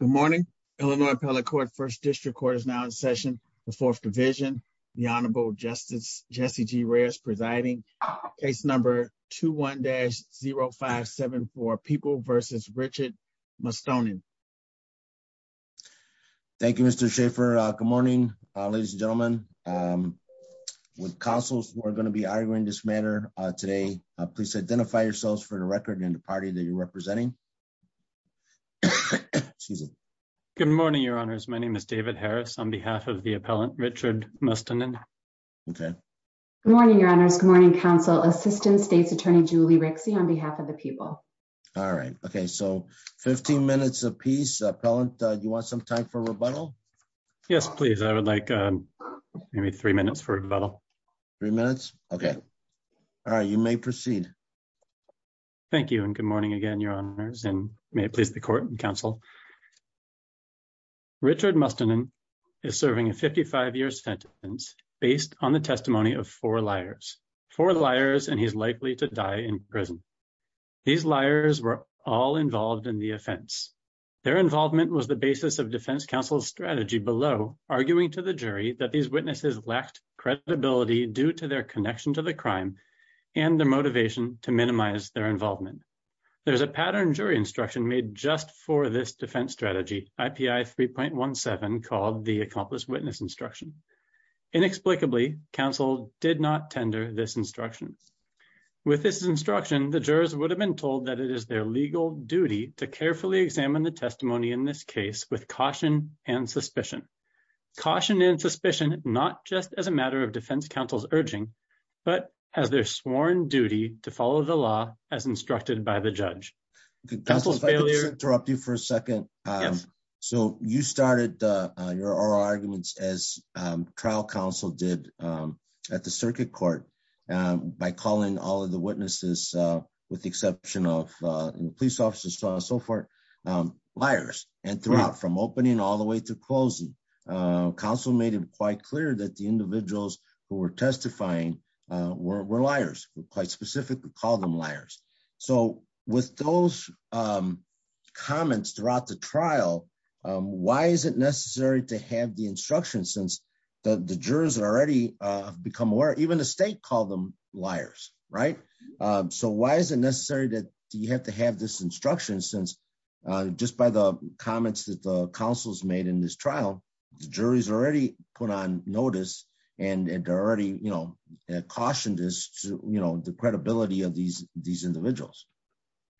Good morning, Illinois Appellate Court. First District Court is now in session. The Fourth Division, the Honorable Justice Jesse G. Reyes presiding. Case number 21-0574, People v. Richard Mustonen. Thank you, Mr. Schaffer. Good morning, ladies and gentlemen. With counsels who are going to be arguing this matter today, please identify yourselves for the record and the party that you're representing. Good morning, Your Honors. My name is David Harris on behalf of the appellant, Richard Mustonen. Okay. Morning, Your Honors. Good morning, Counsel. Assistant State's Attorney Julie Rixey on behalf of the people. All right. Okay, so 15 minutes apiece. Appellant, do you want some time for rebuttal? Yes, please. I would like maybe three minutes for rebuttal. Three minutes? Okay. All right. You may proceed. Thank you and good morning again, Your Honors, and may it please the court and counsel. Richard Mustonen is serving a 55-year sentence based on the testimony of four liars. Four liars, and he's likely to die in prison. These liars were all involved in the offense. Their involvement was the basis of defense counsel's strategy below, arguing to the jury that these witnesses lacked credibility due to their connection to the crime and the motivation to minimize their involvement. There's a pattern jury instruction made just for this defense strategy, IPI 3.17, called the accomplice witness instruction. Inexplicably, counsel did not tender this instruction. With this instruction, the jurors would have been told that it is their legal duty to carefully examine the testimony in this case with caution and suspicion. Caution and suspicion, not just as a matter of defense counsel's urging, but as their sworn duty to follow the law as instructed by the judge. Counsel, if I could just interrupt you for a second. So you started your oral arguments as trial counsel did at the circuit court by calling all of the witnesses, with the exception of police officers and so forth, liars. And throughout, from opening all the way to closing, counsel made it quite clear that the individuals who were testifying were liars, quite specifically called them liars. So with those comments throughout the trial, why is it necessary to have the instruction since the jurors are already become aware, even the state called them liars, right? So why is it necessary that you have to have this instruction since just by the comments that the counsel's made in this trial, the jury's already put on notice and already, you know, cautioned us, you know, the credibility of these, these individuals.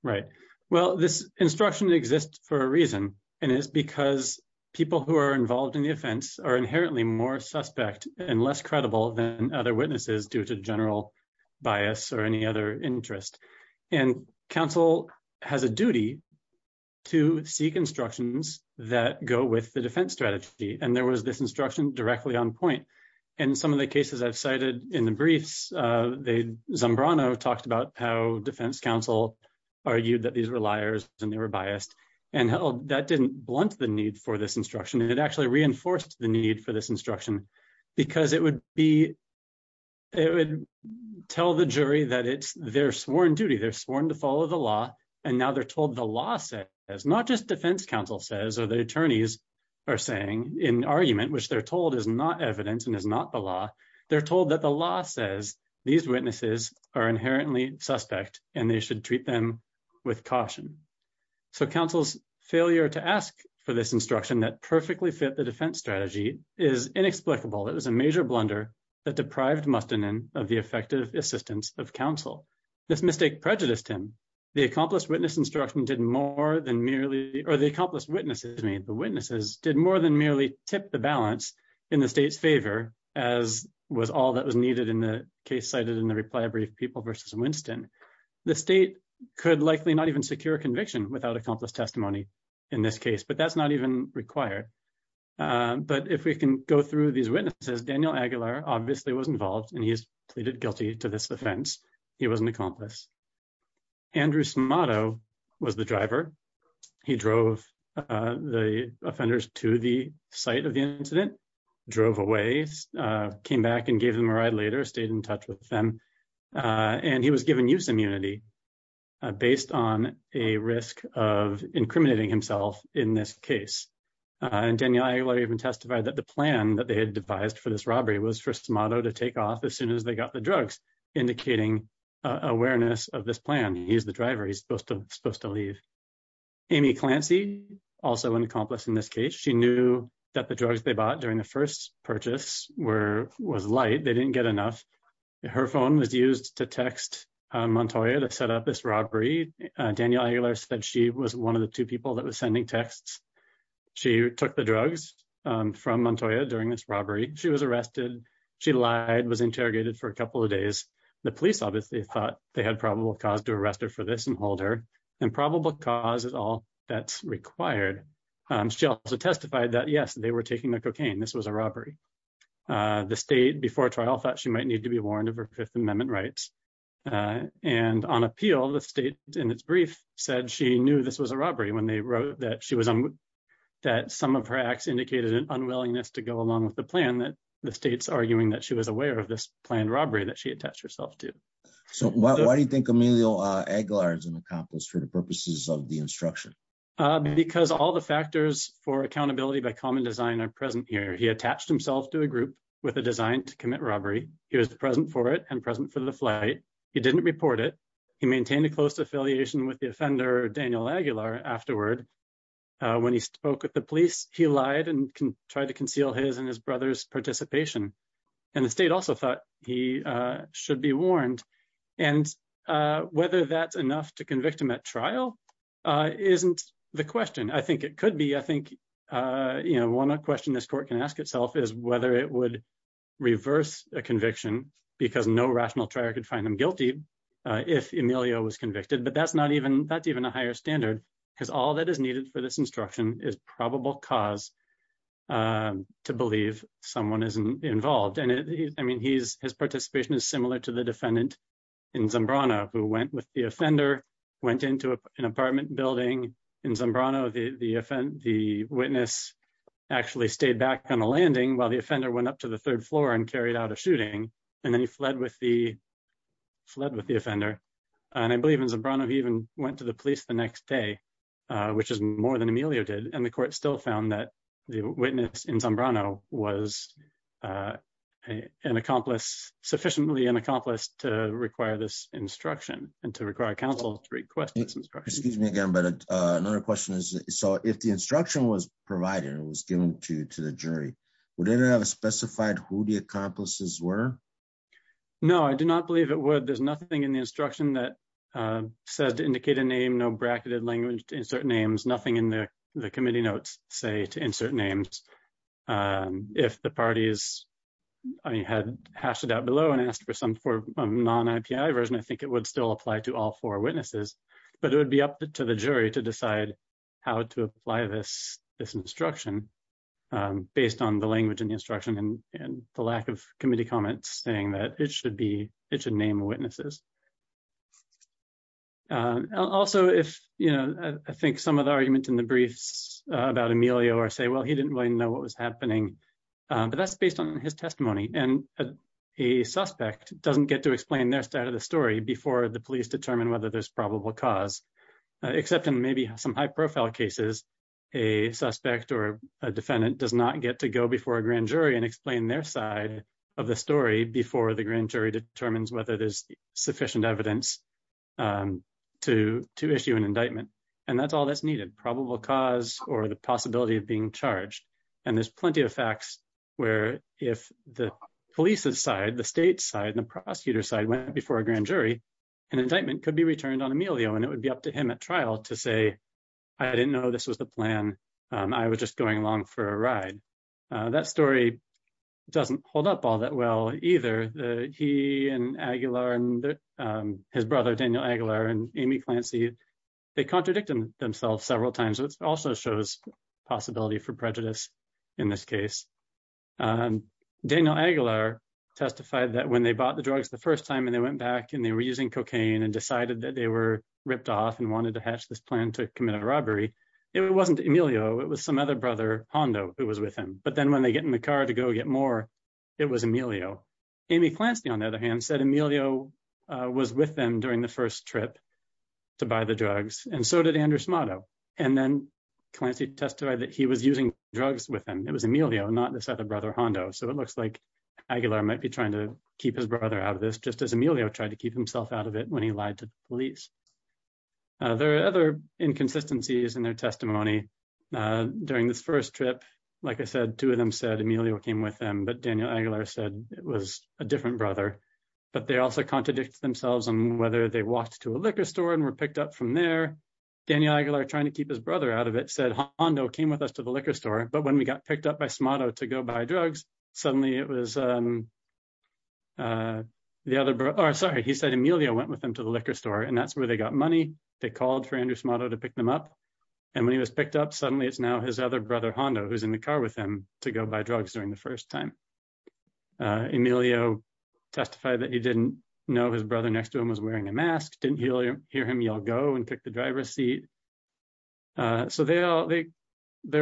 Right. Well, this instruction exists for a reason, and it's because people who are involved in the offense are inherently more suspect and less credible than other witnesses due to general bias or any other interest. And counsel has a duty to seek instructions that go with the defense strategy, and there was this instruction directly on point. In some of the cases I've cited in the briefs, Zambrano talked about how defense counsel argued that these were liars and they were biased, and that didn't blunt the need for this instruction. It actually reinforced the need for this instruction because it would be, it would tell the jury that it's their sworn duty. They're sworn to follow the law, and now they're told the law says, not just defense counsel says or the attorneys are saying in argument, which they're told is not evidence and is not the law. They're told that the law says these witnesses are inherently suspect and they should treat them with caution. So counsel's failure to ask for this instruction that perfectly fit the defense strategy is inexplicable. It was a major blunder that deprived Mustanin of the effective assistance of counsel. This mistake prejudiced him. The accomplished witness instruction did more than merely, or the accomplished witnesses, the witnesses did more than merely tip the balance in the state's favor, as was all that was needed in the case cited in the reply brief The state could likely not even secure conviction without accomplished testimony. In this case, but that's not even required. But if we can go through these witnesses Daniel Aguilar obviously was involved and he's pleaded guilty to this offense. He was an accomplice. Andrew Smato was the driver. He drove the offenders to the site of the incident, drove away, came back and gave them a ride later stayed in touch with them. And he was given use immunity, based on a risk of incriminating himself in this case. And Daniel Aguilar even testified that the plan that they had devised for this robbery was for Smato to take off as soon as they got the drugs, indicating awareness of this plan. He's the driver, he's supposed to leave. Amy Clancy, also an accomplice in this case, she knew that the drugs they bought during the first purchase was light, they didn't get enough. Her phone was used to text Montoya to set up this robbery. Daniel Aguilar said she was one of the two people that was sending texts. She took the drugs from Montoya during this robbery. She was arrested. She lied, was interrogated for a couple of days. The police obviously thought they had probable cause to arrest her for this and hold her, and probable cause is all that's required. She also testified that yes, they were taking the cocaine. This was a robbery. The state, before trial, thought she might need to be warned of her Fifth Amendment rights. And on appeal, the state, in its brief, said she knew this was a robbery when they wrote that some of her acts indicated an unwillingness to go along with the plan, that the state's arguing that she was aware of this planned robbery that she attached herself to. So why do you think Emilio Aguilar is an accomplice for the purposes of the instruction? Because all the factors for accountability by common design are present here. He attached himself to a group with a design to commit robbery. He was present for it and present for the flight. He didn't report it. He maintained a close affiliation with the offender, Daniel Aguilar, afterward. When he spoke with the police, he lied and tried to conceal his and his brother's participation. And the state also thought he should be warned. And whether that's enough to convict him at trial isn't the question. I think it could be. I think, you know, one question this court can ask itself is whether it would reverse a conviction because no rational trial could find him guilty if Emilio was convicted. But that's not even that's even a higher standard because all that is needed for this instruction is probable cause to believe someone is involved. And I mean, he's his participation is similar to the defendant in Zambrano who went with the offender, went into an apartment building in Zambrano. The witness actually stayed back on the landing while the offender went up to the third floor and carried out a shooting. And then he fled with the fled with the offender. And I believe in Zambrano he even went to the police the next day, which is more than Emilio did. And the court still found that the witness in Zambrano was an accomplice, sufficiently an accomplice to require this instruction and to require counsel to request this instruction. Excuse me again but another question is, so if the instruction was provided and was given to the jury, would it have specified who the accomplices were? No, I do not believe it would. There's nothing in the instruction that says to indicate a name, no bracketed language to insert names, nothing in the committee notes say to insert names. If the parties had hashed it out below and asked for some for non-IPI version, I think it would still apply to all four witnesses. But it would be up to the jury to decide how to apply this instruction based on the language in the instruction and the lack of committee comments saying that it should be, it should name witnesses. Also, if you know, I think some of the arguments in the briefs about Emilio or say, well, he didn't really know what was happening. But that's based on his testimony and a suspect doesn't get to explain their side of the story before the police determine whether there's probable cause. Except in maybe some high profile cases, a suspect or a defendant does not get to go before a grand jury and explain their side of the story before the grand jury determines whether there's sufficient evidence to issue an indictment. And that's all that's needed probable cause or the possibility of being charged. And there's plenty of facts where if the police's side, the state's side and the prosecutor's side went before a grand jury, an indictment could be returned on Emilio and it would be up to him at trial to say, I didn't know this was the plan. I was just going along for a ride. That story doesn't hold up all that well, either. He and Aguilar and his brother Daniel Aguilar and Amy Clancy, they contradicted themselves several times which also shows possibility for prejudice in this case. Daniel Aguilar testified that when they bought the drugs the first time and they went back and they were using cocaine and decided that they were ripped off and wanted to hatch this plan to commit a robbery. It wasn't Emilio, it was some other brother, Hondo, who was with him. But then when they get in the car to go get more, it was Emilio. Amy Clancy, on the other hand, said Emilio was with them during the first trip to buy the drugs, and so did Andrew Smato. And then Clancy testified that he was using drugs with him. It was Emilio, not this other brother, Hondo. So it looks like Aguilar might be trying to keep his brother out of this just as Emilio tried to keep himself out of it when he lied to police. There are other inconsistencies in their testimony. During this first trip, like I said, two of them said Emilio came with them, but Daniel Aguilar said it was a different brother. But they also contradicted themselves on whether they walked to a liquor store and were picked up from there. Daniel Aguilar, trying to keep his brother out of it, said Hondo came with us to the liquor store. But when we got picked up by Smato to go buy drugs, suddenly it was the other brother. Sorry, he said Emilio went with them to the liquor store, and that's where they got money. They called for Andrew Smato to pick them up. And when he was picked up, suddenly it's now his other brother, Hondo, who's in the car with him to go buy drugs during the first time. Emilio testified that he didn't know his brother next to him was wearing a mask, didn't hear him yell go and pick the driver's seat. So there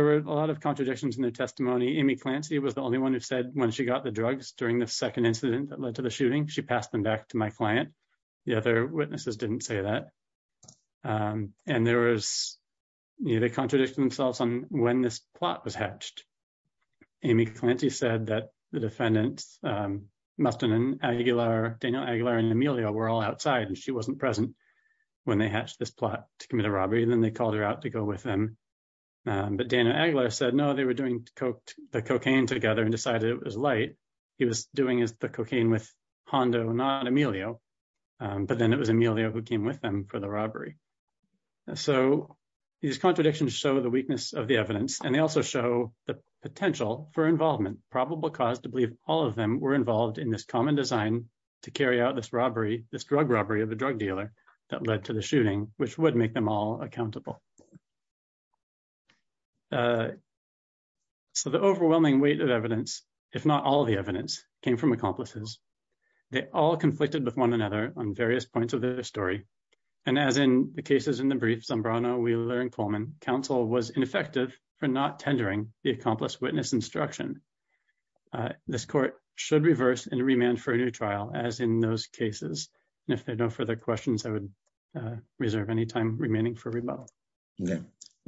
were a lot of contradictions in their testimony. Amy Clancy was the only one who said when she got the drugs during the second incident that led to the shooting, she passed them back to my client. The other witnesses didn't say that. And they contradicted themselves on when this plot was hatched. Amy Clancy said that the defendants, Mustan and Aguilar, Daniel Aguilar and Emilio were all outside and she wasn't present when they hatched this plot to commit a robbery, then they called her out to go with them. But Daniel Aguilar said no, they were doing the cocaine together and decided it was light. He was doing the cocaine with Hondo, not Emilio. But then it was Emilio who came with them for the robbery. So these contradictions show the weakness of the evidence and they also show the potential for involvement, probable cause to believe all of them were involved in this common design to carry out this robbery, this drug robbery of a drug dealer that led to the shooting, which would make them all accountable. So the overwhelming weight of evidence, if not all the evidence, came from accomplices. They all conflicted with one another on various points of the story. And as in the cases in the brief, Zambrano, Wheeler and Coleman, counsel was ineffective for not tendering the accomplice witness instruction. This court should reverse and remand for a new trial as in those cases. And if there are no further questions, I would reserve any time remaining for rebuttal.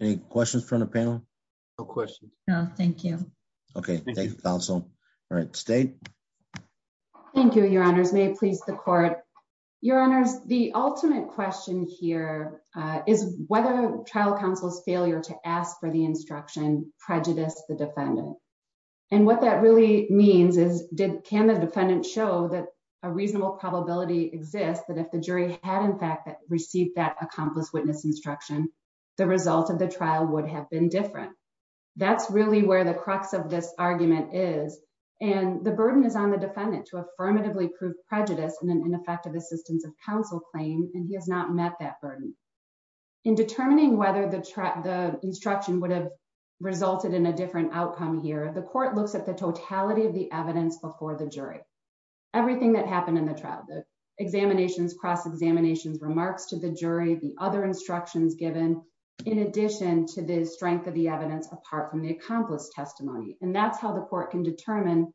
Any questions from the panel? No questions. No, thank you. Okay, thank you, counsel. All right, State. Thank you, Your Honors. May it please the court. Your Honors, the ultimate question here is whether trial counsel's failure to ask for the instruction prejudice the defendant. And what that really means is, can the defendant show that a reasonable probability exists that if the jury had in fact received that accomplice witness instruction, the result of the trial would have been different. That's really where the crux of this argument is. And the burden is on the defendant to affirmatively prove prejudice in an ineffective assistance of counsel claim, and he has not met that burden. In determining whether the instruction would have resulted in a different outcome here, the court looks at the totality of the evidence before the jury. Everything that happened in the trial, the examinations, cross-examinations, remarks to the jury, the other instructions given, in addition to the strength of the evidence apart from the accomplice testimony. And that's how the court can determine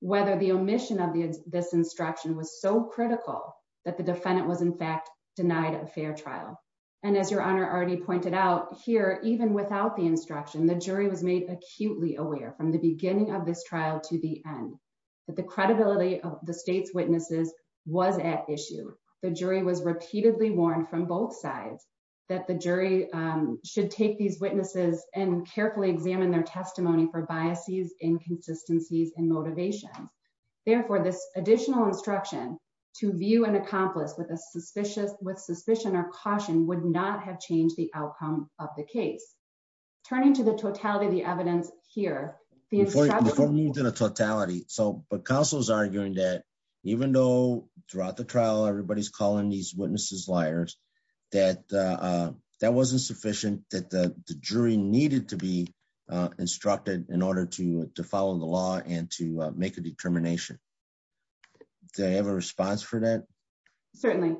whether the omission of this instruction was so critical that the defendant was in fact denied a fair trial. And as Your Honor already pointed out here, even without the instruction, the jury was made acutely aware from the beginning of this trial to the end, that the credibility of the state's witnesses was at issue. The jury was repeatedly warned from both sides that the jury should take these witnesses and carefully examine their testimony for biases, inconsistencies, and motivations. Therefore, this additional instruction to view an accomplice with suspicion or caution would not have changed the outcome of the case. Turning to the totality of the evidence here. Before we move to the totality, but counsel is arguing that even though throughout the trial everybody's calling these witnesses liars, that wasn't sufficient, that the jury needed to be instructed in order to follow the law and to make a determination. Do I have a response for that? Certainly.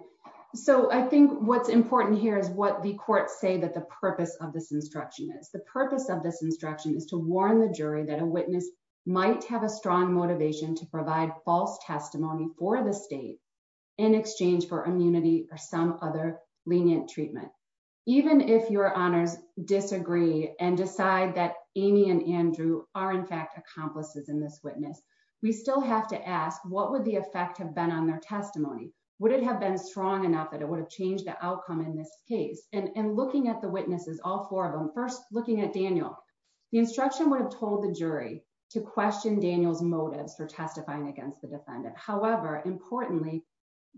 So I think what's important here is what the courts say that the purpose of this instruction is. The purpose of this instruction is to warn the jury that a witness might have a strong motivation to provide false testimony for the state in exchange for immunity or some other lenient treatment. Even if your honors disagree and decide that Amy and Andrew are in fact accomplices in this witness. We still have to ask what would the effect have been on their testimony, would it have been strong enough that it would have changed the outcome in this case, and looking at the witnesses all four of them first looking at Daniel, the instruction would have told the jury to question Daniel's motives for testifying against the defendant. However, importantly,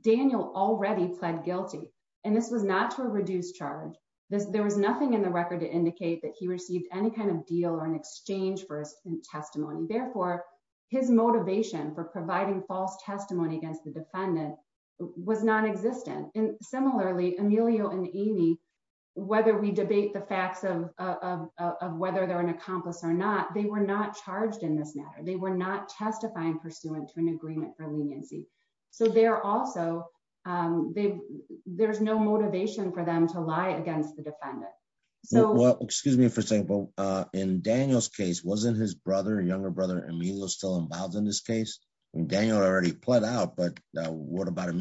Daniel already pled guilty. And this was not to reduce charge this there was nothing in the record to indicate that he received any kind of deal or an exchange for testimony therefore his motivation for providing false testimony against the defendant was non existent and similarly Emilio and Amy, whether we debate the facts of whether they're an accomplice or not they were not charged in this matter they were not testifying pursuant to an agreement for leniency. So they're also, they, there's no motivation for them to lie against the defendant. So, well, excuse me for example, in Daniel's case wasn't his brother younger brother Emilio still involved in this case, and Daniel already put out but what about to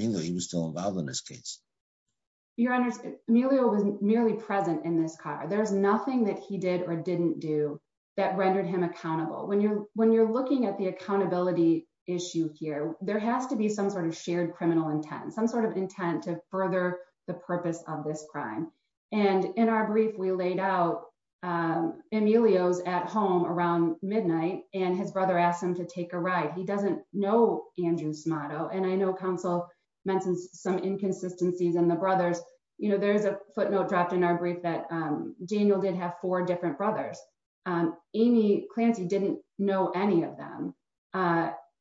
be some sort of shared criminal intent and some sort of intent to further the purpose of this crime. And in our brief we laid out Emilio's at home around midnight, and his brother asked him to take a ride he doesn't know Andrew's motto and I know council mentioned some inconsistencies and the brothers, you know, there's a footnote dropped in our brief that Daniel did have four different brothers, and Amy Clancy didn't know any of them.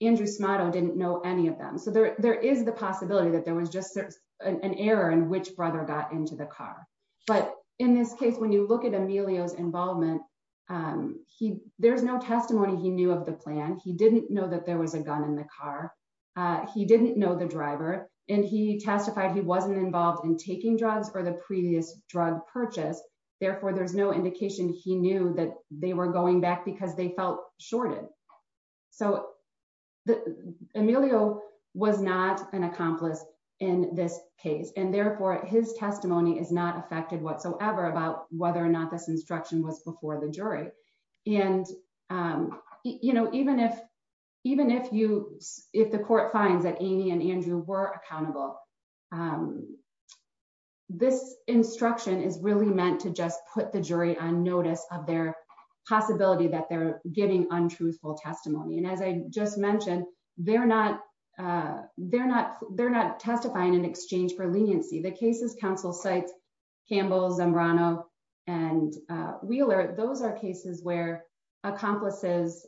Andrew's motto didn't know any of them so there there is the possibility that there was just an error and which brother got into the car. But in this case when you look at Emilio's involvement. He, there's no testimony he knew of the plan he didn't know that there was a gun in the car. He didn't know the driver, and he testified he wasn't involved in taking drugs or the previous drug purchase. Therefore, there's no indication he knew that they were going back because they felt shorted. So, the Emilio was not an accomplice in this case and therefore his testimony is not affected whatsoever about whether or not this instruction was before the jury. And, you know, even if, even if you if the court finds that Amy and Andrew were accountable. This instruction is really meant to just put the jury on notice of their possibility that they're getting untruthful testimony and as I just mentioned, they're not. They're not, they're not testifying in exchange for leniency the cases counsel sites Campbell's and Rana and Wheeler, those are cases where accomplices,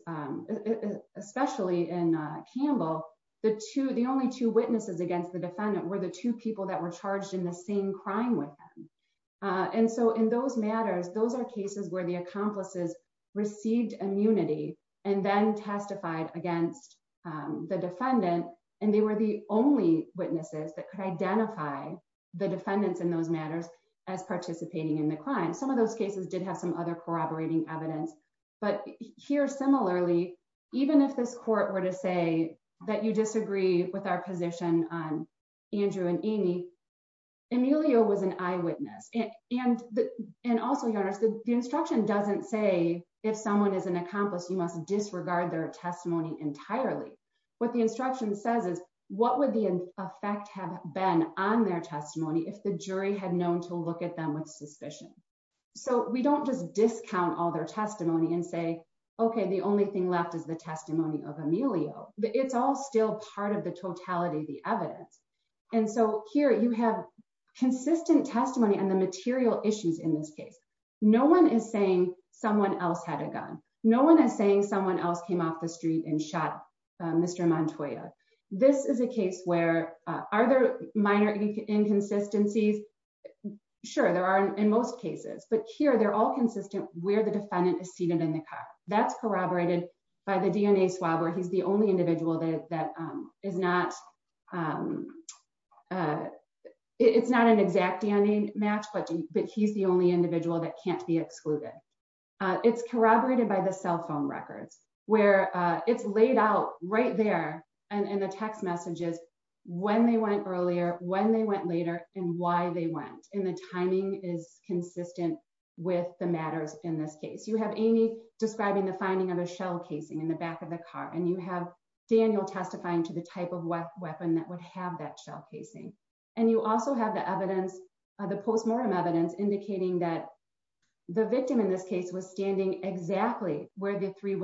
especially in Campbell, the two the only two witnesses against the defendant were the two people that were charged in the same crime with. And so in those matters those are cases where the accomplices received immunity, and then testified against the defendant, and they were the only witnesses that could identify the defendants in those matters as participating in the crime some of those cases did have some other corroborating evidence, but here similarly, even if this court were to say that you disagree with our position on Andrew and Amy Emilio was an eyewitness, and, and also your instruction doesn't say if someone is an accomplice you must disregard their testimony entirely. What the instruction says is, what would the effect have been on their testimony if the jury had known to look at them with suspicion. So we don't just discount all their testimony and say, Okay, the only thing left is the testimony of Emilio, but it's all still part of the totality the evidence. And so here you have consistent testimony and the material issues in this case. No one is saying, someone else had a gun. No one is saying someone else came off the street and shot. Mr Montoya. This is a case where are there minor inconsistencies. Sure, there are in most cases but here they're all consistent, where the defendant is seated in the car that's corroborated by the DNA swab or he's the only individual that is not. It's not an exact DNA match but but he's the only individual that can't be excluded. It's corroborated by the cell phone records, where it's laid out right there, and the text messages, when they went earlier, when they went later, and why they went in the timing is consistent with the matters in this case you have any describing the finding of a shell casing in the back of the car and you have Daniel testifying to the type of what weapon that would have that shell casing. And you also have the evidence of the postmortem evidence indicating that the victim in this case was standing exactly where the three The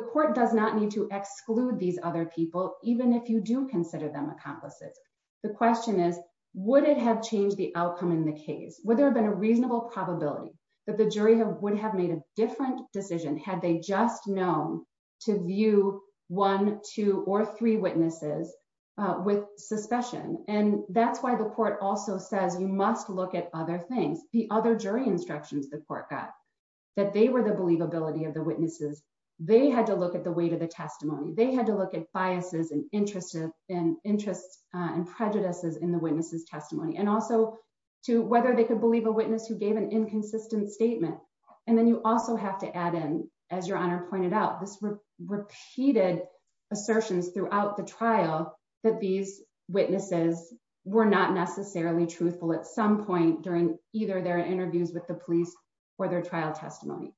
court does not need to exclude these other people, even if you do consider them accomplices. The question is, would it have changed the outcome in the case where there have been a reasonable probability that the jury have would have made a different decision had they just known to view one, two, or three witnesses with suspicion, and that's why the court also says you must look at other things, the other jury instructions the court got that they were the believability of the witnesses, they had to look at the weight of the statement. And then you also have to add in, as your honor pointed out this repeated assertions throughout the trial that these witnesses were not necessarily truthful at some point during either their interviews with the police or their trial testimony.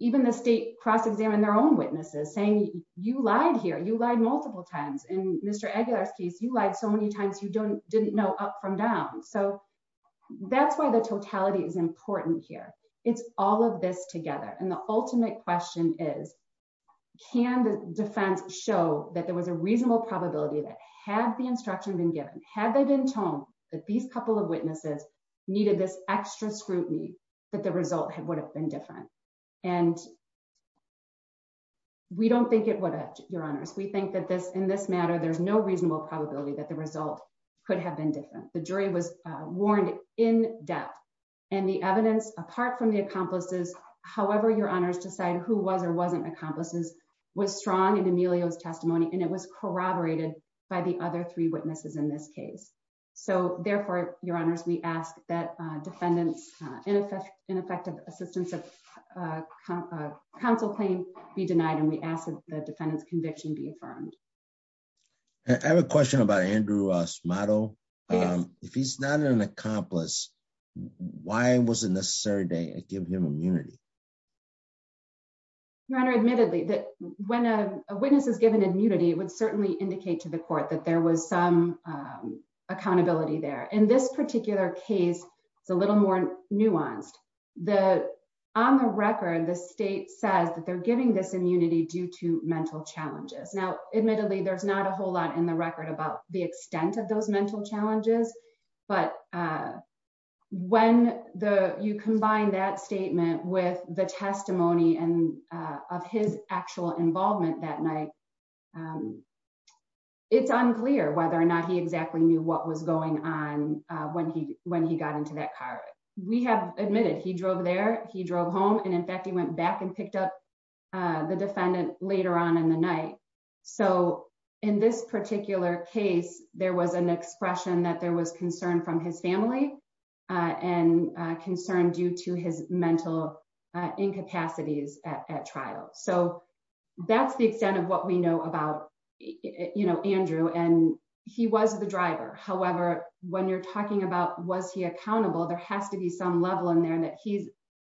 Even the state cross examine their own witnesses saying you lied here you lied multiple times and Mr. Aguilar's case you like so many times you don't didn't know up from down so that's why the totality is important here. It's all of this together and the ultimate question is, can the defense show that there was a reasonable probability that had the instruction been given had they been told that these couple of witnesses needed this extra scrutiny, but the result would have been different. And we don't think it would have your honors we think that this in this matter there's no reasonable probability that the result could have been different, the jury was warned in depth, and the evidence, apart from the accomplices. However, your honors decide who was or wasn't accomplices was strong and Emilio his testimony and it was corroborated by the other three witnesses in this case. So, therefore, your honors we ask that defendants ineffective ineffective assistance of counsel claim be denied and we asked the defendants conviction be affirmed. I have a question about Andrew us model. If he's not an accomplice. Why was it necessary to give him immunity. Your Honor admittedly that when a witness is given immunity would certainly indicate to the court that there was some accountability there in this particular case, it's a little more nuanced the on the record the state says that they're giving this immunity due to mental challenges now admittedly there's not a whole lot in the record about the extent of those mental challenges. But when the you combine that statement with the testimony and of his actual involvement that night. It's unclear whether or not he exactly knew what was going on when he when he got into that car. We have admitted he drove there, he drove home and in fact he went back and picked up the defendant, later on in the night. So, in this particular case, there was an expression that there was concern from his family and concern due to his mental incapacities at trial so that's the extent of what we know about, you know, Andrew and he was the driver. However, when you're talking about was he accountable there has to be some level in there and that he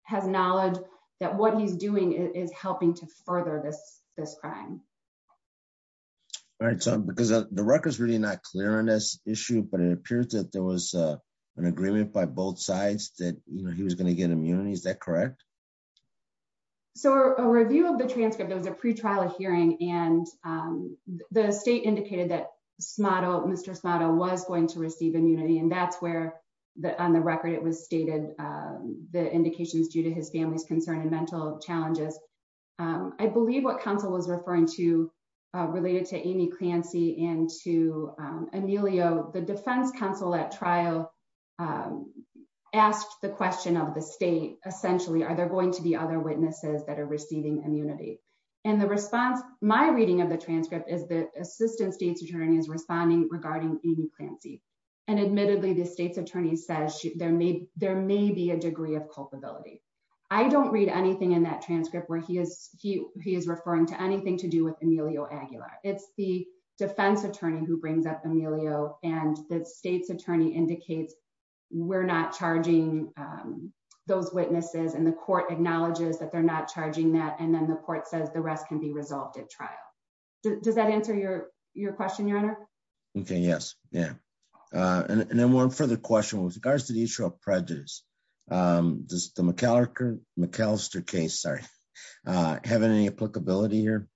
has knowledge that what he's doing is helping to further this, this crime. Right, because the record is really not clear on this issue but it appears that there was an agreement by both sides that he was going to get immunity Is that correct. So a review of the transcript there was a pre trial hearing, and the state indicated that model, Mr motto was going to receive immunity and that's where the on the record it was stated the indications due to his family's concern and mental challenges. I believe what Council was referring to related to any clancy and to Emilio the Defense Council at trial. Asked the question of the state, essentially, are there going to be other witnesses that are receiving immunity and the response, my reading of the transcript is the assistant state's attorney is responding regarding any fancy and admittedly the state's I don't read anything in that transcript where he is, he, he is referring to anything to do with Emilio Aguilar, it's the defense attorney who brings up Emilio, and the state's attorney indicates, we're not charging those witnesses and the court acknowledges that they're not charging that and then the court says the rest can be resolved at trial. Does that answer your, your question your honor. Okay, yes. Yeah. And then one further question with regards to the issue of prejudice. Does the McCallister McCallister case sorry. Have any applicability here.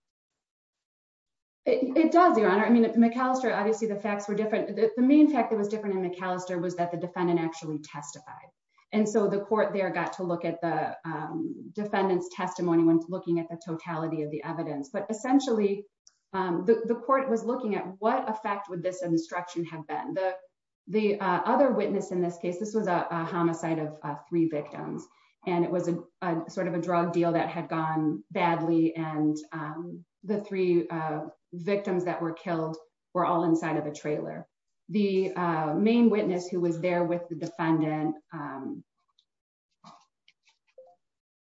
It does your honor I mean it's McAllister obviously the facts were different. The main fact that was different in McAllister was that the defendant actually testified. And so the court there got to look at the defendants testimony when looking at the totality of the evidence but essentially the court was looking at what effect would this instruction have been the, the other witness in this case this was a homicide of three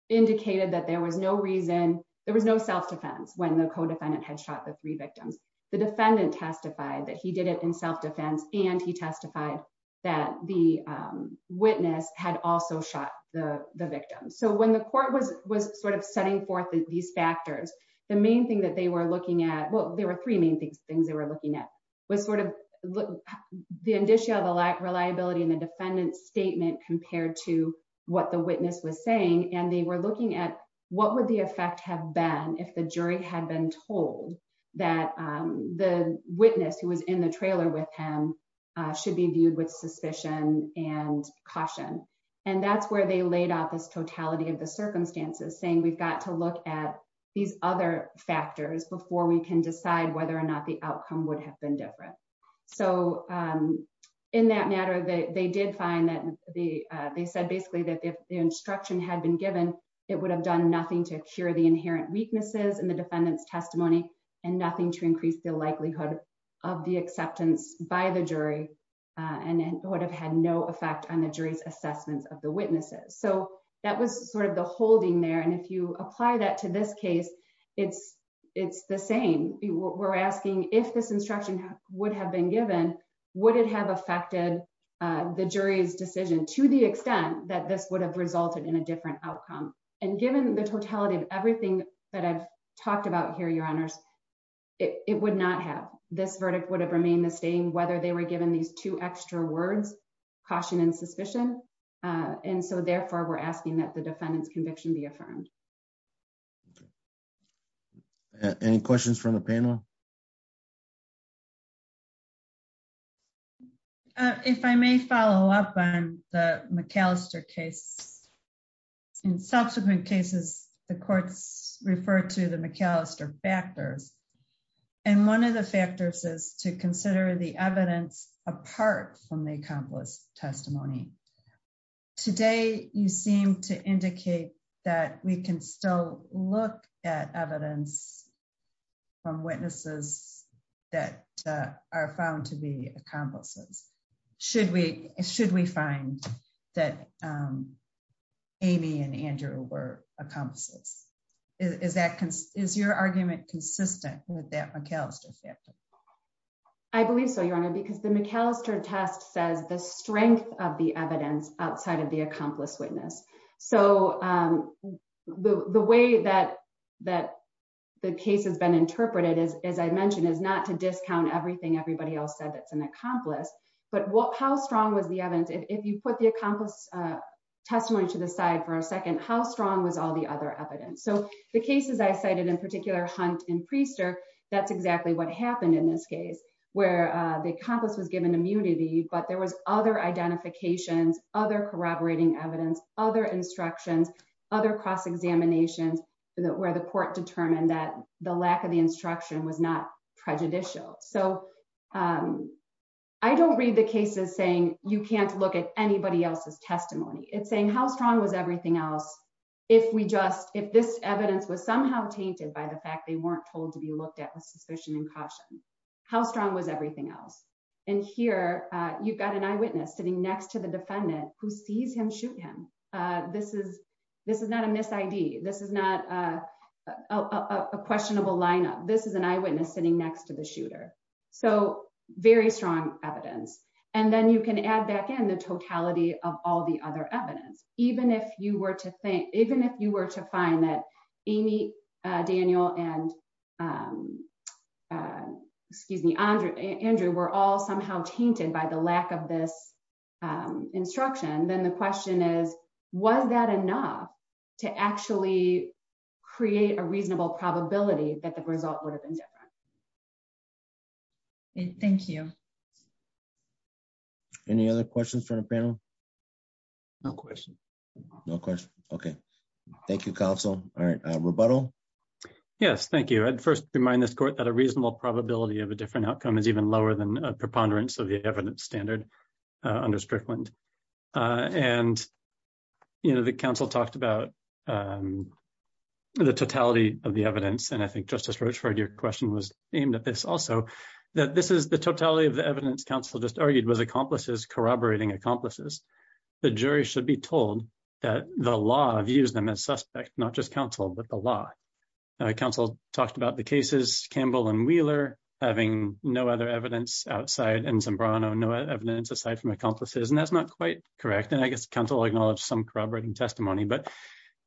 indicated that there was no reason there was no self defense when the co defendant had shot the three victims, the defendant testified that he did it in self defense, and he testified that the witness had also shot the victim so when the court was was sort of setting forth these factors. The main thing that they were looking at what there were three main things things they were looking at was sort of the initial the lack reliability and the defendant statement compared to what the witness was saying, and they were ultimately got to look at these other factors before we can decide whether or not the outcome would have been different. So, in that matter that they did find that the, they said basically that if the instruction had been given, it would have done nothing to cure the inherent weaknesses and the defendants testimony, and nothing to increase the likelihood of the acceptance by the jury, and it would have had no effect on the jury's assessments of the witnesses so that was sort of the holding there and if you apply that to this case, it's, it's the same. We're asking if this instruction would have been given, would it have affected the jury's decision to the extent that this would have resulted in a different outcome, and given the totality of everything that I've be affirmed. Any questions from the panel. If I may follow up on the McAllister case. In subsequent cases, the courts referred to the McAllister factors. And one of the factors is to consider the evidence, apart from the accomplice testimony. Today, you seem to indicate that we can still look at evidence from witnesses that are found to be accomplices. Should we, should we find that Amy and Andrew were accomplices. Is that is your argument consistent with that McAllister factor. I believe so your honor because the McAllister test says the strength of the evidence outside of the accomplice witness. So, the way that that the case has been interpreted as I mentioned is not to discount everything everybody else said that's an accomplice, but what how strong was the evidence if you put the accomplice testimony to the side for a second how strong was all the other evidence so the cases I cited in particular hunt and prester, that's exactly what happened in this case, where the compass was you don't read the cases saying you can't look at anybody else's testimony it's saying how strong was everything else. If we just if this evidence was somehow tainted by the fact they weren't told to be looked at with suspicion and caution. How strong was everything else. And here, you've got an eyewitness sitting next to the defendant who sees him shoot him. This is, this is not a miss ID, this is not a questionable lineup. This is an eyewitness sitting next to the shooter. So, very strong evidence, and then you can add back in the totality of all the other evidence, even if you were to think, even if you were to find that Amy, Daniel and, excuse me, Andrew, Andrew were all somehow tainted by the lack of this instruction, then the question is, was that enough to actually create a reasonable probability that the result would have been different. Thank you. Any other questions for the panel. No question. No question. Okay. Thank you, Council. All right, rebuttal. Yes, thank you. I'd first remind this court that a reasonable probability of a different outcome is even lower than a preponderance of the evidence standard under Strickland. And, you know, the council talked about the totality of the evidence and I think Justice Rocheford your question was aimed at this also that this is the totality of the evidence council just argued was accomplices corroborating accomplices. The jury should be told that the law views them as suspect, not just counsel, but the law council talked about the cases, Campbell and Wheeler, having no other evidence outside and some brown or no evidence aside from accomplices and that's not quite correct and I guess Council acknowledge some corroborating testimony but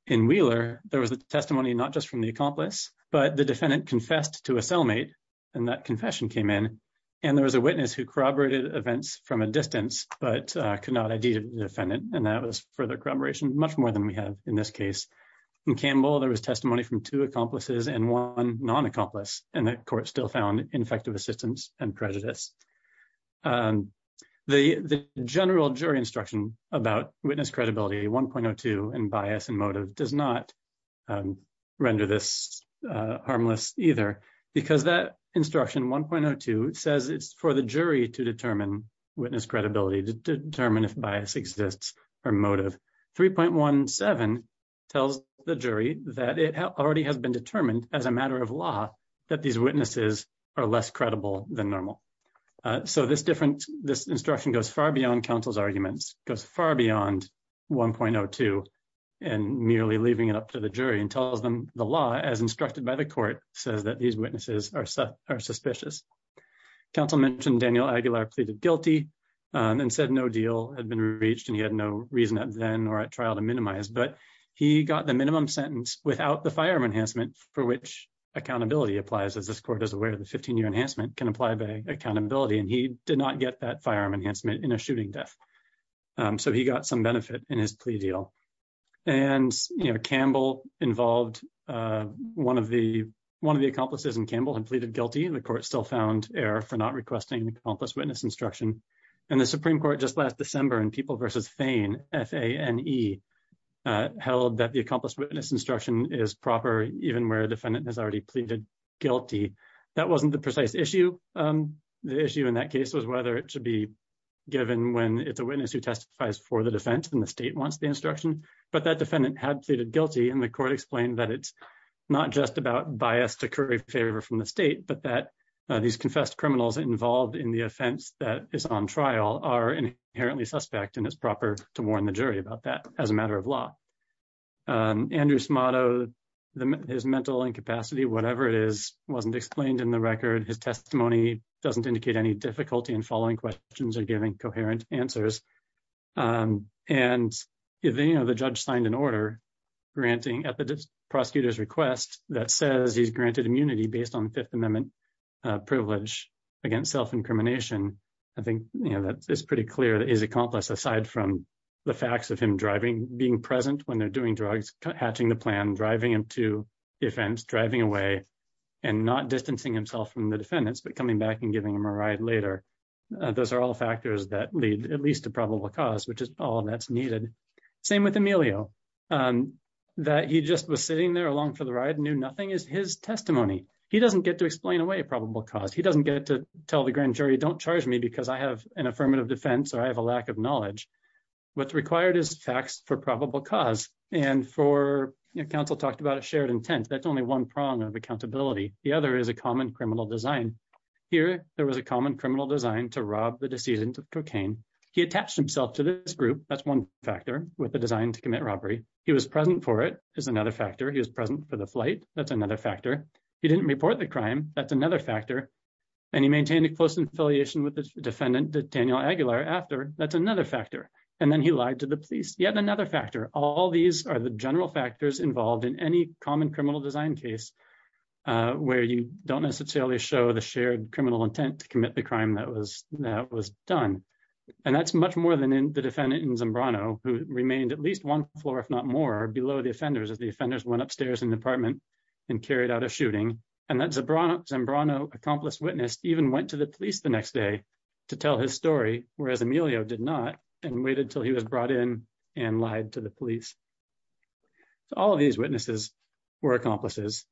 in Wheeler, there was a testimony not just from the accomplice, but the defendant confessed to a cellmate, and that confession came in. And there was a witness who corroborated events from a distance, but could not identify the defendant, and that was further corroboration much more than we have in this case. In Campbell there was testimony from two accomplices and one non accomplice, and that court still found ineffective assistance and prejudice. And the general jury instruction about witness credibility 1.02 and bias and motive does not render this harmless, either, because that instruction 1.02 says it's for the jury to determine witness credibility to determine if bias exists, or motive 3.17 tells the jury that it already has been determined as a matter of law that these witnesses are less credible than normal. So this different this instruction goes far beyond counsel's arguments goes far beyond 1.02 and nearly leaving it up to the jury and tells them the law as instructed by the court says that these witnesses are set are suspicious. Council mentioned Daniel Aguilar pleaded guilty and said no deal had been reached and he had no reason at then or at trial to minimize but he got the minimum sentence without the firearm enhancement for which accountability applies as this court is aware of the 15 year enhancement can apply by accountability and he did not get that firearm enhancement in a shooting death. So he got some benefit in his plea deal. And, you know, Campbell involved. One of the one of the accomplices and Campbell and pleaded guilty and the court still found error for not requesting an accomplice witness instruction, and the Supreme Court just last December and people versus Fane F A and he held that the accomplice witness instruction is proper, even where defendant has already pleaded guilty. That wasn't the precise issue. The issue in that case was whether it should be given when it's a witness who testifies for the defense and the state wants the instruction, but that defendant had pleaded guilty and the court explained that it's not just about bias to curry favor from the state but that these confessed criminals involved in the offense that is on trial are inherently suspect and it's proper to warn the jury about that as a matter of law. Andrews motto, the mental incapacity whatever it is wasn't explained in the record his testimony doesn't indicate any difficulty and following questions are giving coherent answers. And, you know, the judge signed an order granting at the prosecutor's request that says he's granted immunity based on Fifth Amendment privilege against self incrimination. I think that is pretty clear that is accomplished aside from the facts of him driving being present when they're doing drugs, catching the plan driving him to defense driving away and not distancing himself from the defendants but coming back and giving him a ride later. Those are all factors that lead at least a probable cause which is all that's needed. Same with Emilio that he just was sitting there along for the ride knew nothing is his testimony. He doesn't get to explain away probable cause he doesn't get to tell the grand jury don't charge me because I have an affirmative defense or I have a lack of knowledge. What's required is facts for probable cause, and for your counsel talked about a shared intent that's only one prong of accountability. The other is a common criminal design. Here, there was a common criminal design to rob the decision to cocaine. He attached himself to this group, that's one factor with the design to commit robbery, he was present for it is another factor he was present for the flight, that's another factor. He didn't report the crime, that's another factor. And he maintained a close affiliation with the defendant Daniel Aguilar after that's another factor. And then he lied to the police yet another factor, all these are the general factors involved in any common criminal design case where you don't necessarily show the and carried out a shooting, and that's a bronze and Bruno accomplice witness even went to the police the next day to tell his story, whereas Emilio did not, and waited till he was brought in and lied to the police. All of these witnesses were accomplices,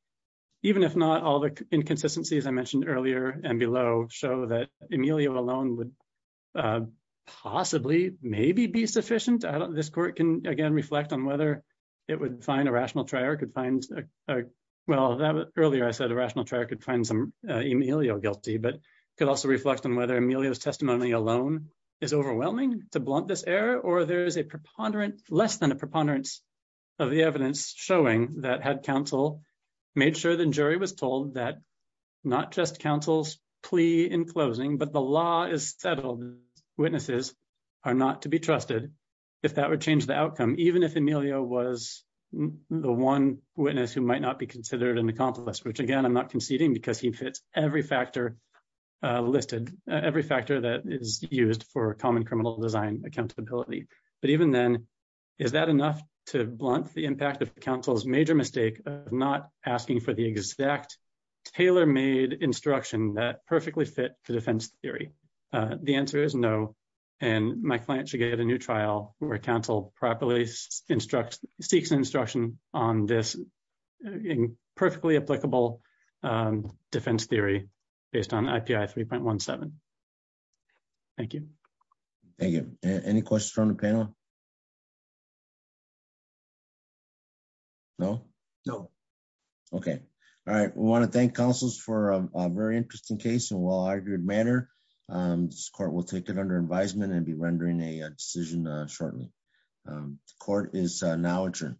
even if not all the inconsistencies I mentioned earlier, and below, show that Emilio alone would possibly maybe be sufficient I don't this court can again reflect on whether it would find a rational trial could find. Well, earlier I said a rational track and find some Emilio guilty but could also reflect on whether Emilio testimony alone is overwhelming to blunt this error or there's a preponderance, less than a preponderance of the evidence, showing that had counsel made sure the jury was told that not just counsel's plea in closing but the law is settled. Witnesses are not to be trusted. If that would change the outcome, even if Emilio was the one witness who might not be considered an accomplice which again I'm not conceding because he fits every factor listed every factor that is used for common criminal design accountability, but even then, is that enough to blunt the impact of counsel's major mistake of not asking for the exact Taylor made instruction that perfectly fit to defense theory. So, the answer is no. And my client should get a new trial, where counsel properly instructs seeks instruction on this perfectly applicable defense theory, based on IPI 3.17. Thank you. Any questions from the panel. No, no. Okay. All right. We want to thank councils for a very interesting case and well argued manner score will take it under advisement and be rendering a decision shortly. Court is now adjourned.